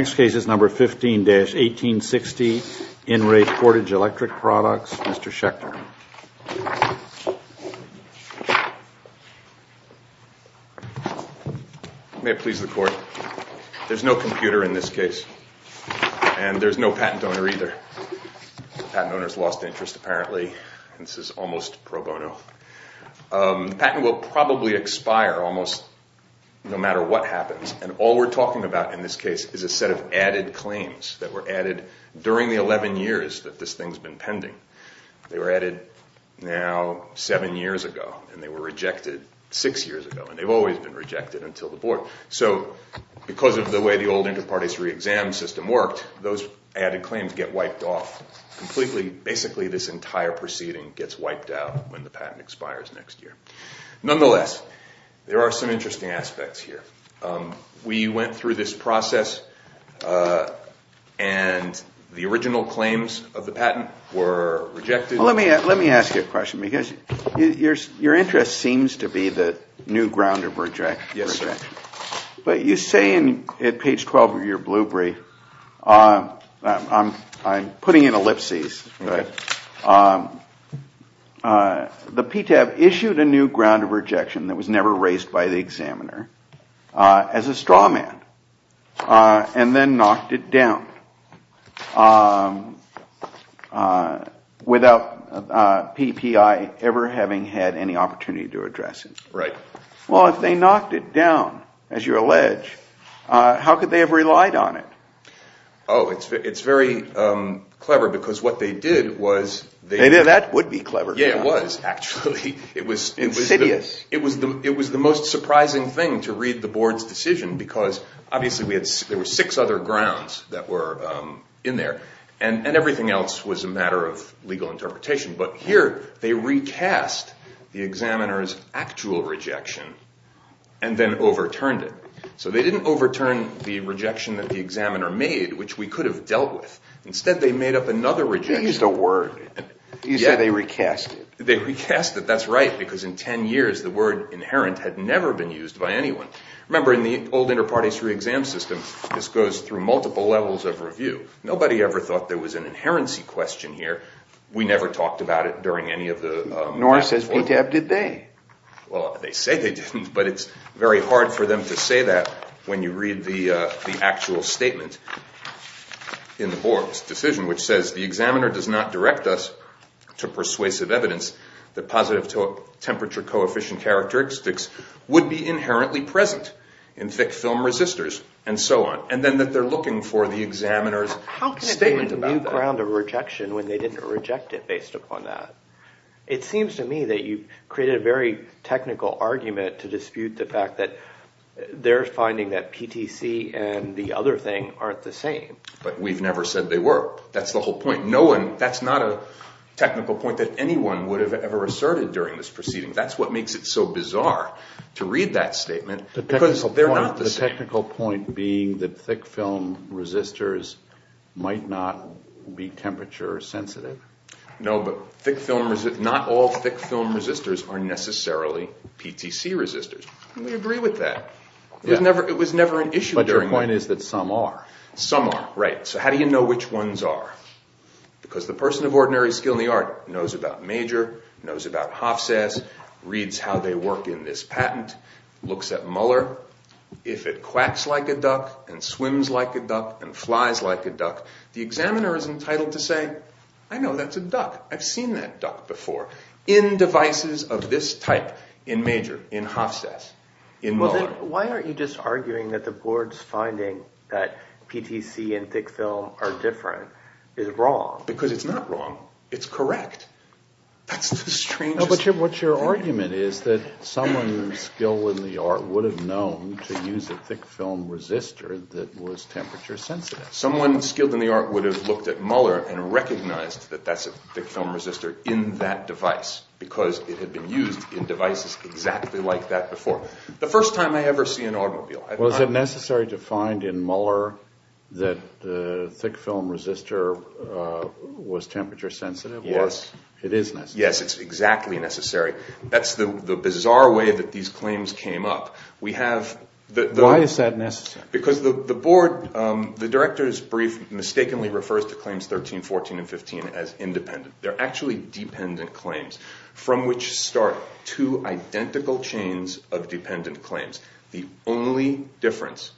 Next case is number 15-1860, In Re Portage Electric Products, Mr. Schechter. May it please the Court. There's no computer in this case. And there's no patent donor either. The patent owner's lost interest apparently. This is almost pro bono. The patent will probably expire almost no matter what happens. And all we're talking about in this case is a set of added claims that were added during the 11 years that this thing's been pending. They were added now seven years ago. And they were rejected six years ago. And they've always been rejected until the board. So because of the way the old inter partes re-exam system worked, those added claims get wiped off completely. Basically this entire proceeding gets wiped out when the patent expires next year. Nonetheless, there are some interesting aspects here. We went through this process and the original claims of the patent were rejected. Let me ask you a question because your interest seems to be the new ground of rejection. Yes, sir. But you say at page 12 of your blue brief, I'm putting in ellipses, the PTAB issued a new ground of rejection that was never raised by the examiner as a straw man and then knocked it down without PPI ever having had any opportunity to address it. Right. Well, if they knocked it down, as you allege, how could they have relied on it? Oh, it's very clever because what they did was… Maybe that would be clever. Yeah, it was actually. Insidious. It was the most surprising thing to read the board's decision because obviously there were six other grounds that were in there and everything else was a matter of legal interpretation. But here they recast the examiner's actual rejection and then overturned it. So they didn't overturn the rejection that the examiner made, which we could have dealt with. Instead, they made up another rejection. They used a word. You said they recast it. They recast it. That's right because in 10 years, the word inherent had never been used by anyone. Remember, in the old inter partes re-exam system, this goes through multiple levels of review. Nobody ever thought there was an inherency question here. We never talked about it during any of the… Nor says PTAB did they. Well, they say they didn't, but it's very hard for them to say that when you read the actual statement in the board's decision, which says the examiner does not direct us to persuasive evidence that positive temperature coefficient characteristics would be inherently present in thick film resistors and so on, and then that they're looking for the examiner's statement about that. How can it be a new ground of rejection when they didn't reject it based upon that? It seems to me that you've created a very technical argument to dispute the fact that they're finding that PTC and the other thing aren't the same. But we've never said they were. That's the whole point. That's not a technical point that anyone would have ever asserted during this proceeding. That's what makes it so bizarre to read that statement because they're not the same. The technical point being that thick film resistors might not be temperature sensitive? No, but not all thick film resistors are necessarily PTC resistors, and we agree with that. It was never an issue during that. But your point is that some are. Some are, right. So how do you know which ones are? Because the person of ordinary skill in the art knows about Major, knows about Hofsass, reads how they work in this patent, looks at Muller. If it quacks like a duck and swims like a duck and flies like a duck, the examiner is entitled to say, I know, that's a duck. I've seen that duck before in devices of this type in Major, in Hofsass, in Muller. Why aren't you just arguing that the board's finding that PTC and thick film are different is wrong? Because it's not wrong. It's correct. That's the strangest thing. But what your argument is that someone with skill in the art would have known to use a thick film resistor that was temperature sensitive. Someone skilled in the art would have looked at Muller and recognized that that's a thick film resistor in that device because it had been used in devices exactly like that before. The first time I ever see an automobile. Was it necessary to find in Muller that the thick film resistor was temperature sensitive? Yes. It is necessary. Yes, it's exactly necessary. That's the bizarre way that these claims came up. Why is that necessary? Because the board, the director's brief mistakenly refers to claims 13, 14, and 15 as independent. They're actually dependent claims from which start two identical chains of dependent claims. The only difference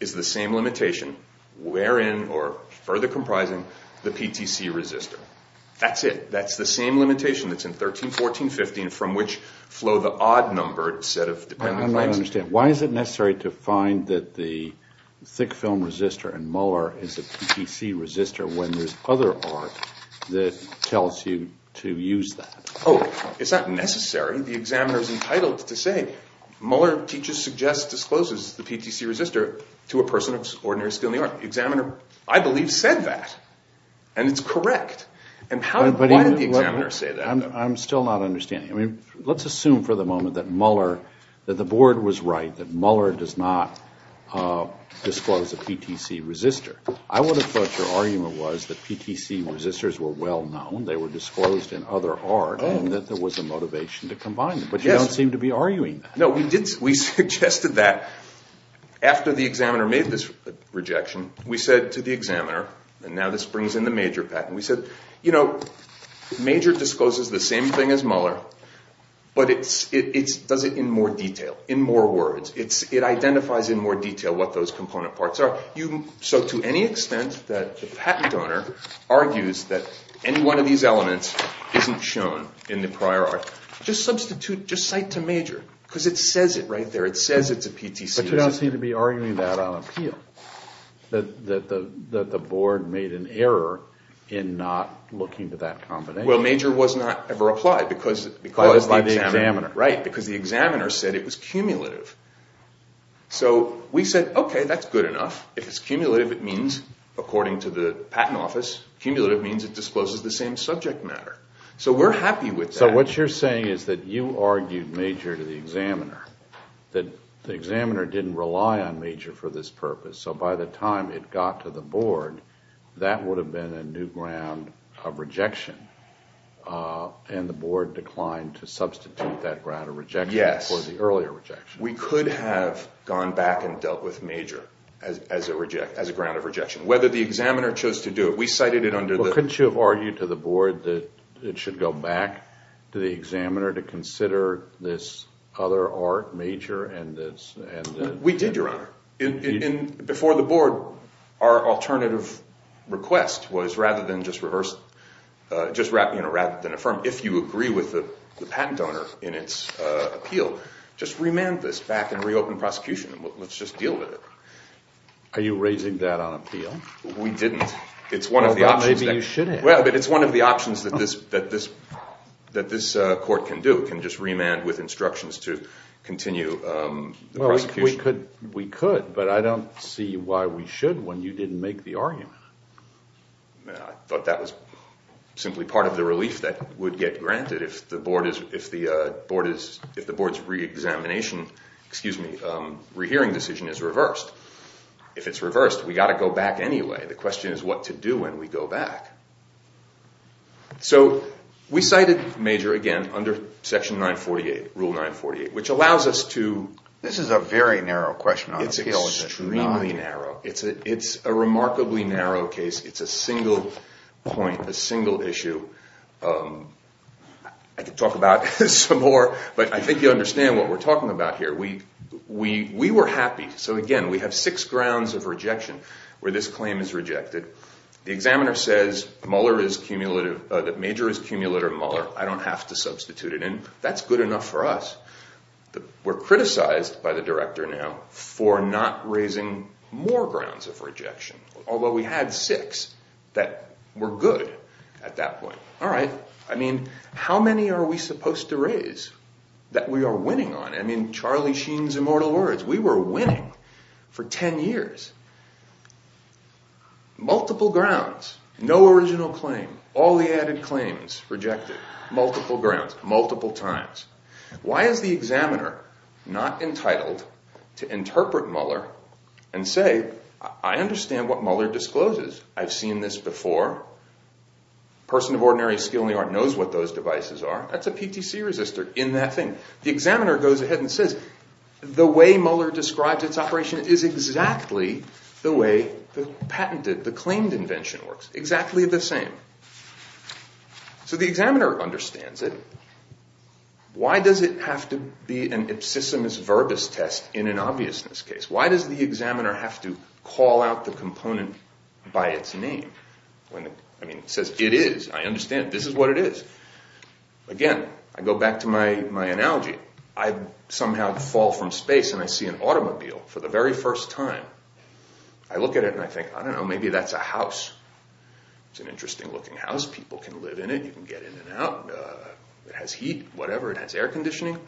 is the same limitation wherein or further comprising the PTC resistor. That's it. That's the same limitation that's in 13, 14, 15 from which flow the odd-numbered set of dependent claims. I don't understand. Why is it necessary to find that the thick film resistor in Muller is a PTC resistor when there's other art that tells you to use that? Oh, it's not necessary. The examiner's entitled to say, Muller teaches, suggests, discloses the PTC resistor to a person of ordinary skill in the art. The examiner, I believe, said that, and it's correct. Why did the examiner say that? I'm still not understanding. Let's assume for the moment that Muller, that the board was right, that Muller does not disclose a PTC resistor. I would have thought your argument was that PTC resistors were well-known, they were disclosed in other art, and that there was a motivation to combine them. But you don't seem to be arguing that. No, we suggested that after the examiner made this rejection. We said to the examiner, and now this brings in the major patent, we said, you know, major discloses the same thing as Muller, but it does it in more detail, in more words. It identifies in more detail what those component parts are. So to any extent that the patent owner argues that any one of these elements isn't shown in the prior art, just substitute, just cite to major, because it says it right there. It says it's a PTC resistor. That the board made an error in not looking to that combination. Well, major was not ever applied because the examiner said it was cumulative. So we said, okay, that's good enough. If it's cumulative, it means, according to the patent office, cumulative means it discloses the same subject matter. So we're happy with that. So what you're saying is that you argued major to the examiner, that the examiner didn't rely on major for this purpose. So by the time it got to the board, that would have been a new ground of rejection, and the board declined to substitute that ground of rejection for the earlier rejection. Yes. We could have gone back and dealt with major as a ground of rejection. Whether the examiner chose to do it, we cited it under the- We did, Your Honor. Before the board, our alternative request was rather than just affirm, if you agree with the patent owner in its appeal, just remand this back and reopen prosecution. Let's just deal with it. Are you raising that on appeal? We didn't. Well, maybe you shouldn't. It's one of the options that this court can do, can just remand with instructions to continue the prosecution. We could, but I don't see why we should when you didn't make the argument. I thought that was simply part of the relief that would get granted if the board's re-examination, excuse me, re-hearing decision is reversed. If it's reversed, we've got to go back anyway. The question is what to do when we go back. So we cited major again under Section 948, Rule 948, which allows us to- This is a very narrow question. It's extremely narrow. It's a remarkably narrow case. It's a single point, a single issue. I could talk about this some more, but I think you understand what we're talking about here. We were happy. So again, we have six grounds of rejection where this claim is rejected. The examiner says that major is cumulative in Muller. I don't have to substitute it in. That's good enough for us. We're criticized by the director now for not raising more grounds of rejection, although we had six that were good at that point. All right. I mean, how many are we supposed to raise that we are winning on? I mean, Charlie Sheen's immortal words. We were winning for 10 years. Multiple grounds. No original claim. All the added claims rejected. Multiple grounds, multiple times. Why is the examiner not entitled to interpret Muller and say, I understand what Muller discloses. I've seen this before. A person of ordinary skill in the art knows what those devices are. That's a PTC resistor in that thing. The examiner goes ahead and says, the way Muller describes its operation is exactly the way the patented, the claimed invention works. Exactly the same. So the examiner understands it. Why does it have to be an ipsissimus verbis test in an obviousness case? Why does the examiner have to call out the component by its name? I mean, it says it is. I understand. This is what it is. Again, I go back to my analogy. I somehow fall from space and I see an automobile for the very first time. I look at it and I think, I don't know, maybe that's a house. It's an interesting looking house. People can live in it. You can get in and out. It has heat, whatever. It has air conditioning.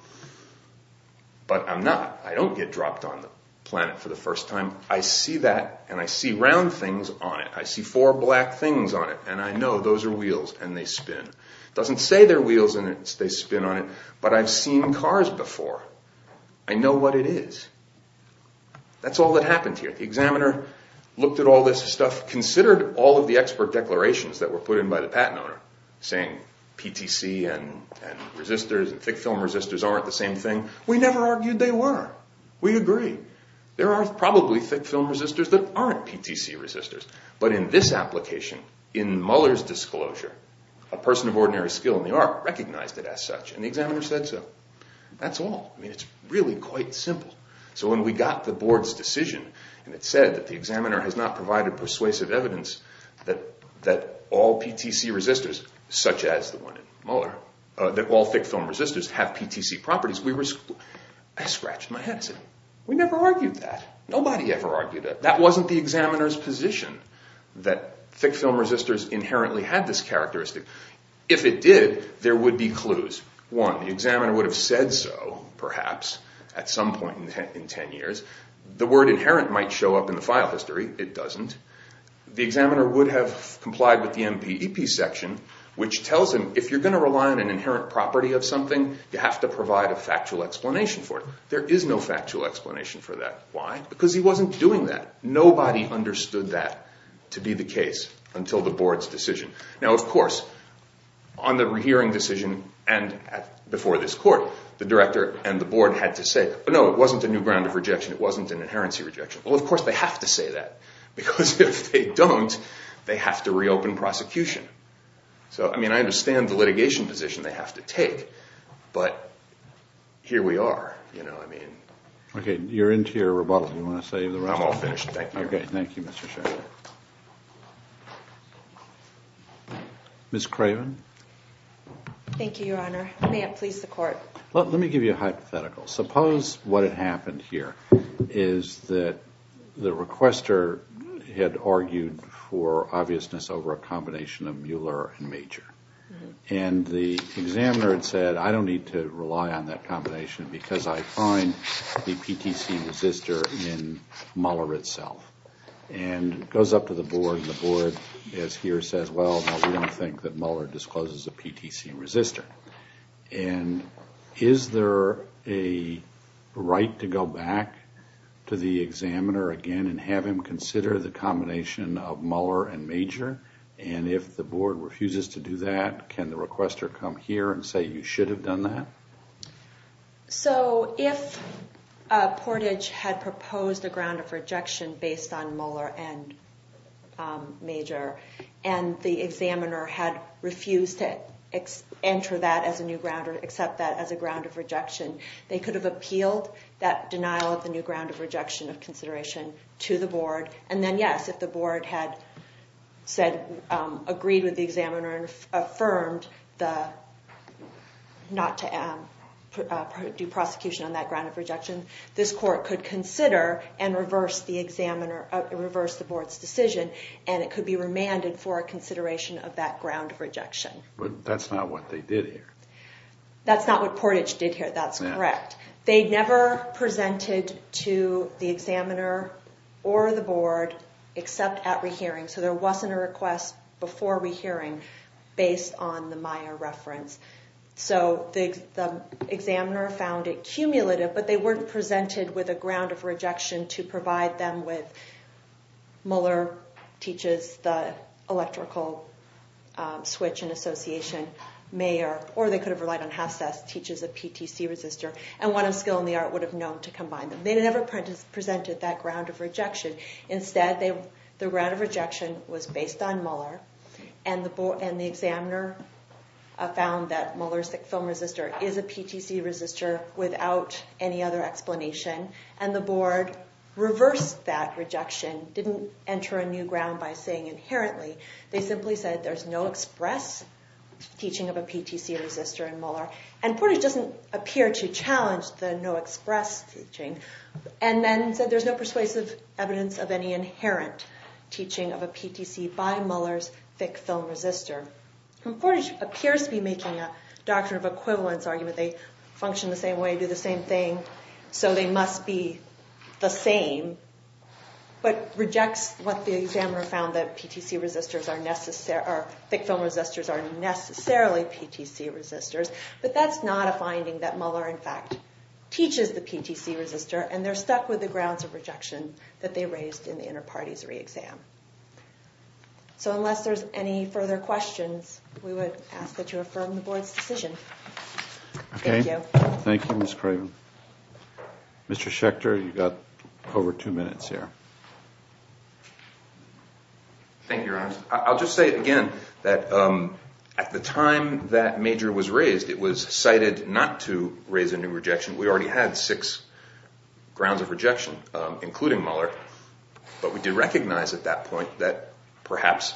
But I'm not. I don't get dropped on the planet for the first time. I see that and I see round things on it. I see four black things on it. And I know those are wheels and they spin. It doesn't say they're wheels and they spin on it, but I've seen cars before. I know what it is. That's all that happened here. The examiner looked at all this stuff, considered all of the expert declarations that were put in by the patent owner, saying PTC and resistors and thick film resistors aren't the same thing. We never argued they were. We agree. There are probably thick film resistors that aren't PTC resistors. But in this application, in Mueller's disclosure, a person of ordinary skill in the art recognized it as such, and the examiner said so. That's all. It's really quite simple. So when we got the board's decision, and it said that the examiner has not provided persuasive evidence that all PTC resistors, such as the one in Mueller, that all thick film resistors have PTC properties, I scratched my head. I said, we never argued that. Nobody ever argued that. That wasn't the examiner's position, that thick film resistors inherently had this characteristic. If it did, there would be clues. One, the examiner would have said so, perhaps, at some point in 10 years. The word inherent might show up in the file history. It doesn't. The examiner would have complied with the MPEP section, which tells him if you're going to rely on an inherent property of something, you have to provide a factual explanation for it. There is no factual explanation for that. Why? Because he wasn't doing that. Nobody understood that to be the case until the board's decision. Now, of course, on the hearing decision and before this court, the director and the board had to say, no, it wasn't a new ground of rejection. It wasn't an inherency rejection. Well, of course, they have to say that, because if they don't, they have to reopen prosecution. So, I mean, I understand the litigation position they have to take, but here we are. Okay. You're into your rebuttal. Do you want to save the round? I'll finish. Thank you. Okay. Thank you, Mr. Sheridan. Ms. Craven? Thank you, Your Honor. May it please the court. Let me give you a hypothetical. Suppose what had happened here is that the requester had argued for obviousness over a combination of Mueller and Major, and the examiner had said, I don't need to rely on that combination because I find the PTC and resistor in Mueller itself. And it goes up to the board, and the board, as here, says, well, we don't think that Mueller discloses the PTC and resistor. And is there a right to go back to the examiner again and have him consider the combination of Mueller and Major? And if the board refuses to do that, can the requester come here and say you should have done that? So if Portage had proposed a ground of rejection based on Mueller and Major and the examiner had refused to enter that as a new ground or accept that as a ground of rejection, they could have appealed that denial of the new ground of rejection of consideration to the board. And then, yes, if the board had agreed with the examiner and affirmed not to do prosecution on that ground of rejection, this court could consider and reverse the board's decision, and it could be remanded for a consideration of that ground of rejection. But that's not what they did here. That's not what Portage did here. That's correct. They never presented to the examiner or the board except at rehearing, so there wasn't a request before rehearing based on the Meyer reference. So the examiner found it cumulative, but they weren't presented with a ground of rejection to provide them with Mueller teaches the electrical switch and association, or they could have relied on half-sass teaches a PTC resistor and one of skill in the art would have known to combine them. They never presented that ground of rejection. Instead, the ground of rejection was based on Mueller and the examiner found that Mueller's film resistor is a PTC resistor without any other explanation, and the board reversed that rejection, didn't enter a new ground by saying inherently. They simply said there's no express teaching of a PTC resistor in Mueller, and Portage doesn't appear to challenge the no express teaching, and then said there's no persuasive evidence of any inherent teaching of a PTC by Mueller's thick film resistor. And Portage appears to be making a doctrine of equivalence argument. They function the same way, do the same thing, so they must be the same, but rejects what the examiner found that PTC resistors are necessary, thick film resistors are necessarily PTC resistors, but that's not a finding that Mueller, in fact, teaches the PTC resistor and they're stuck with the grounds of rejection that they raised in the inter-parties re-exam. So unless there's any further questions, we would ask that you affirm the board's decision. Thank you. Thank you, Ms. Craven. Mr. Schechter, you've got over two minutes here. Thank you, Your Honors. I'll just say again that at the time that major was raised, it was cited not to raise a new rejection. We already had six grounds of rejection, including Mueller, but we did recognize at that point that perhaps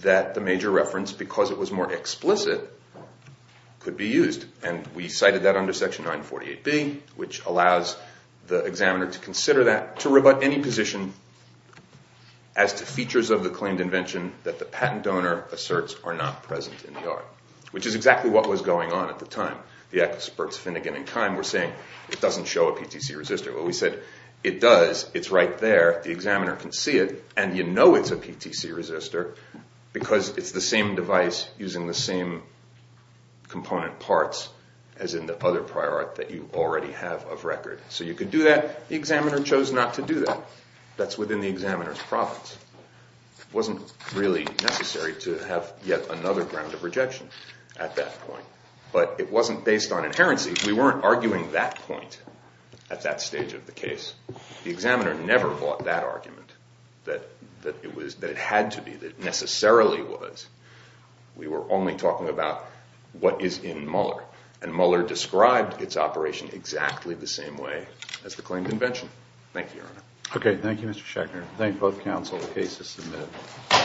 that the major reference, because it was more explicit, could be used, and we cited that under Section 948B, which allows the examiner to consider that, to rebut any position as to features of the claimed invention that the patent donor asserts are not present in the art, which is exactly what was going on at the time. The experts, Finnegan and Kime, were saying, it doesn't show a PTC resistor. Well, we said, it does. It's right there. The examiner can see it, and you know it's a PTC resistor because it's the same device using the same component parts as in the other prior art that you already have of record. So you could do that. The examiner chose not to do that. That's within the examiner's profits. It wasn't really necessary to have yet another ground of rejection at that point, but it wasn't based on inherency. We weren't arguing that point at that stage of the case. The examiner never bought that argument, that it had to be, that it necessarily was. We were only talking about what is in Muller, and Muller described its operation exactly the same way as the claimed invention. Thank you, Your Honor. Okay. Thank you, Mr. Schechner. Thank both counsel. The case is submitted.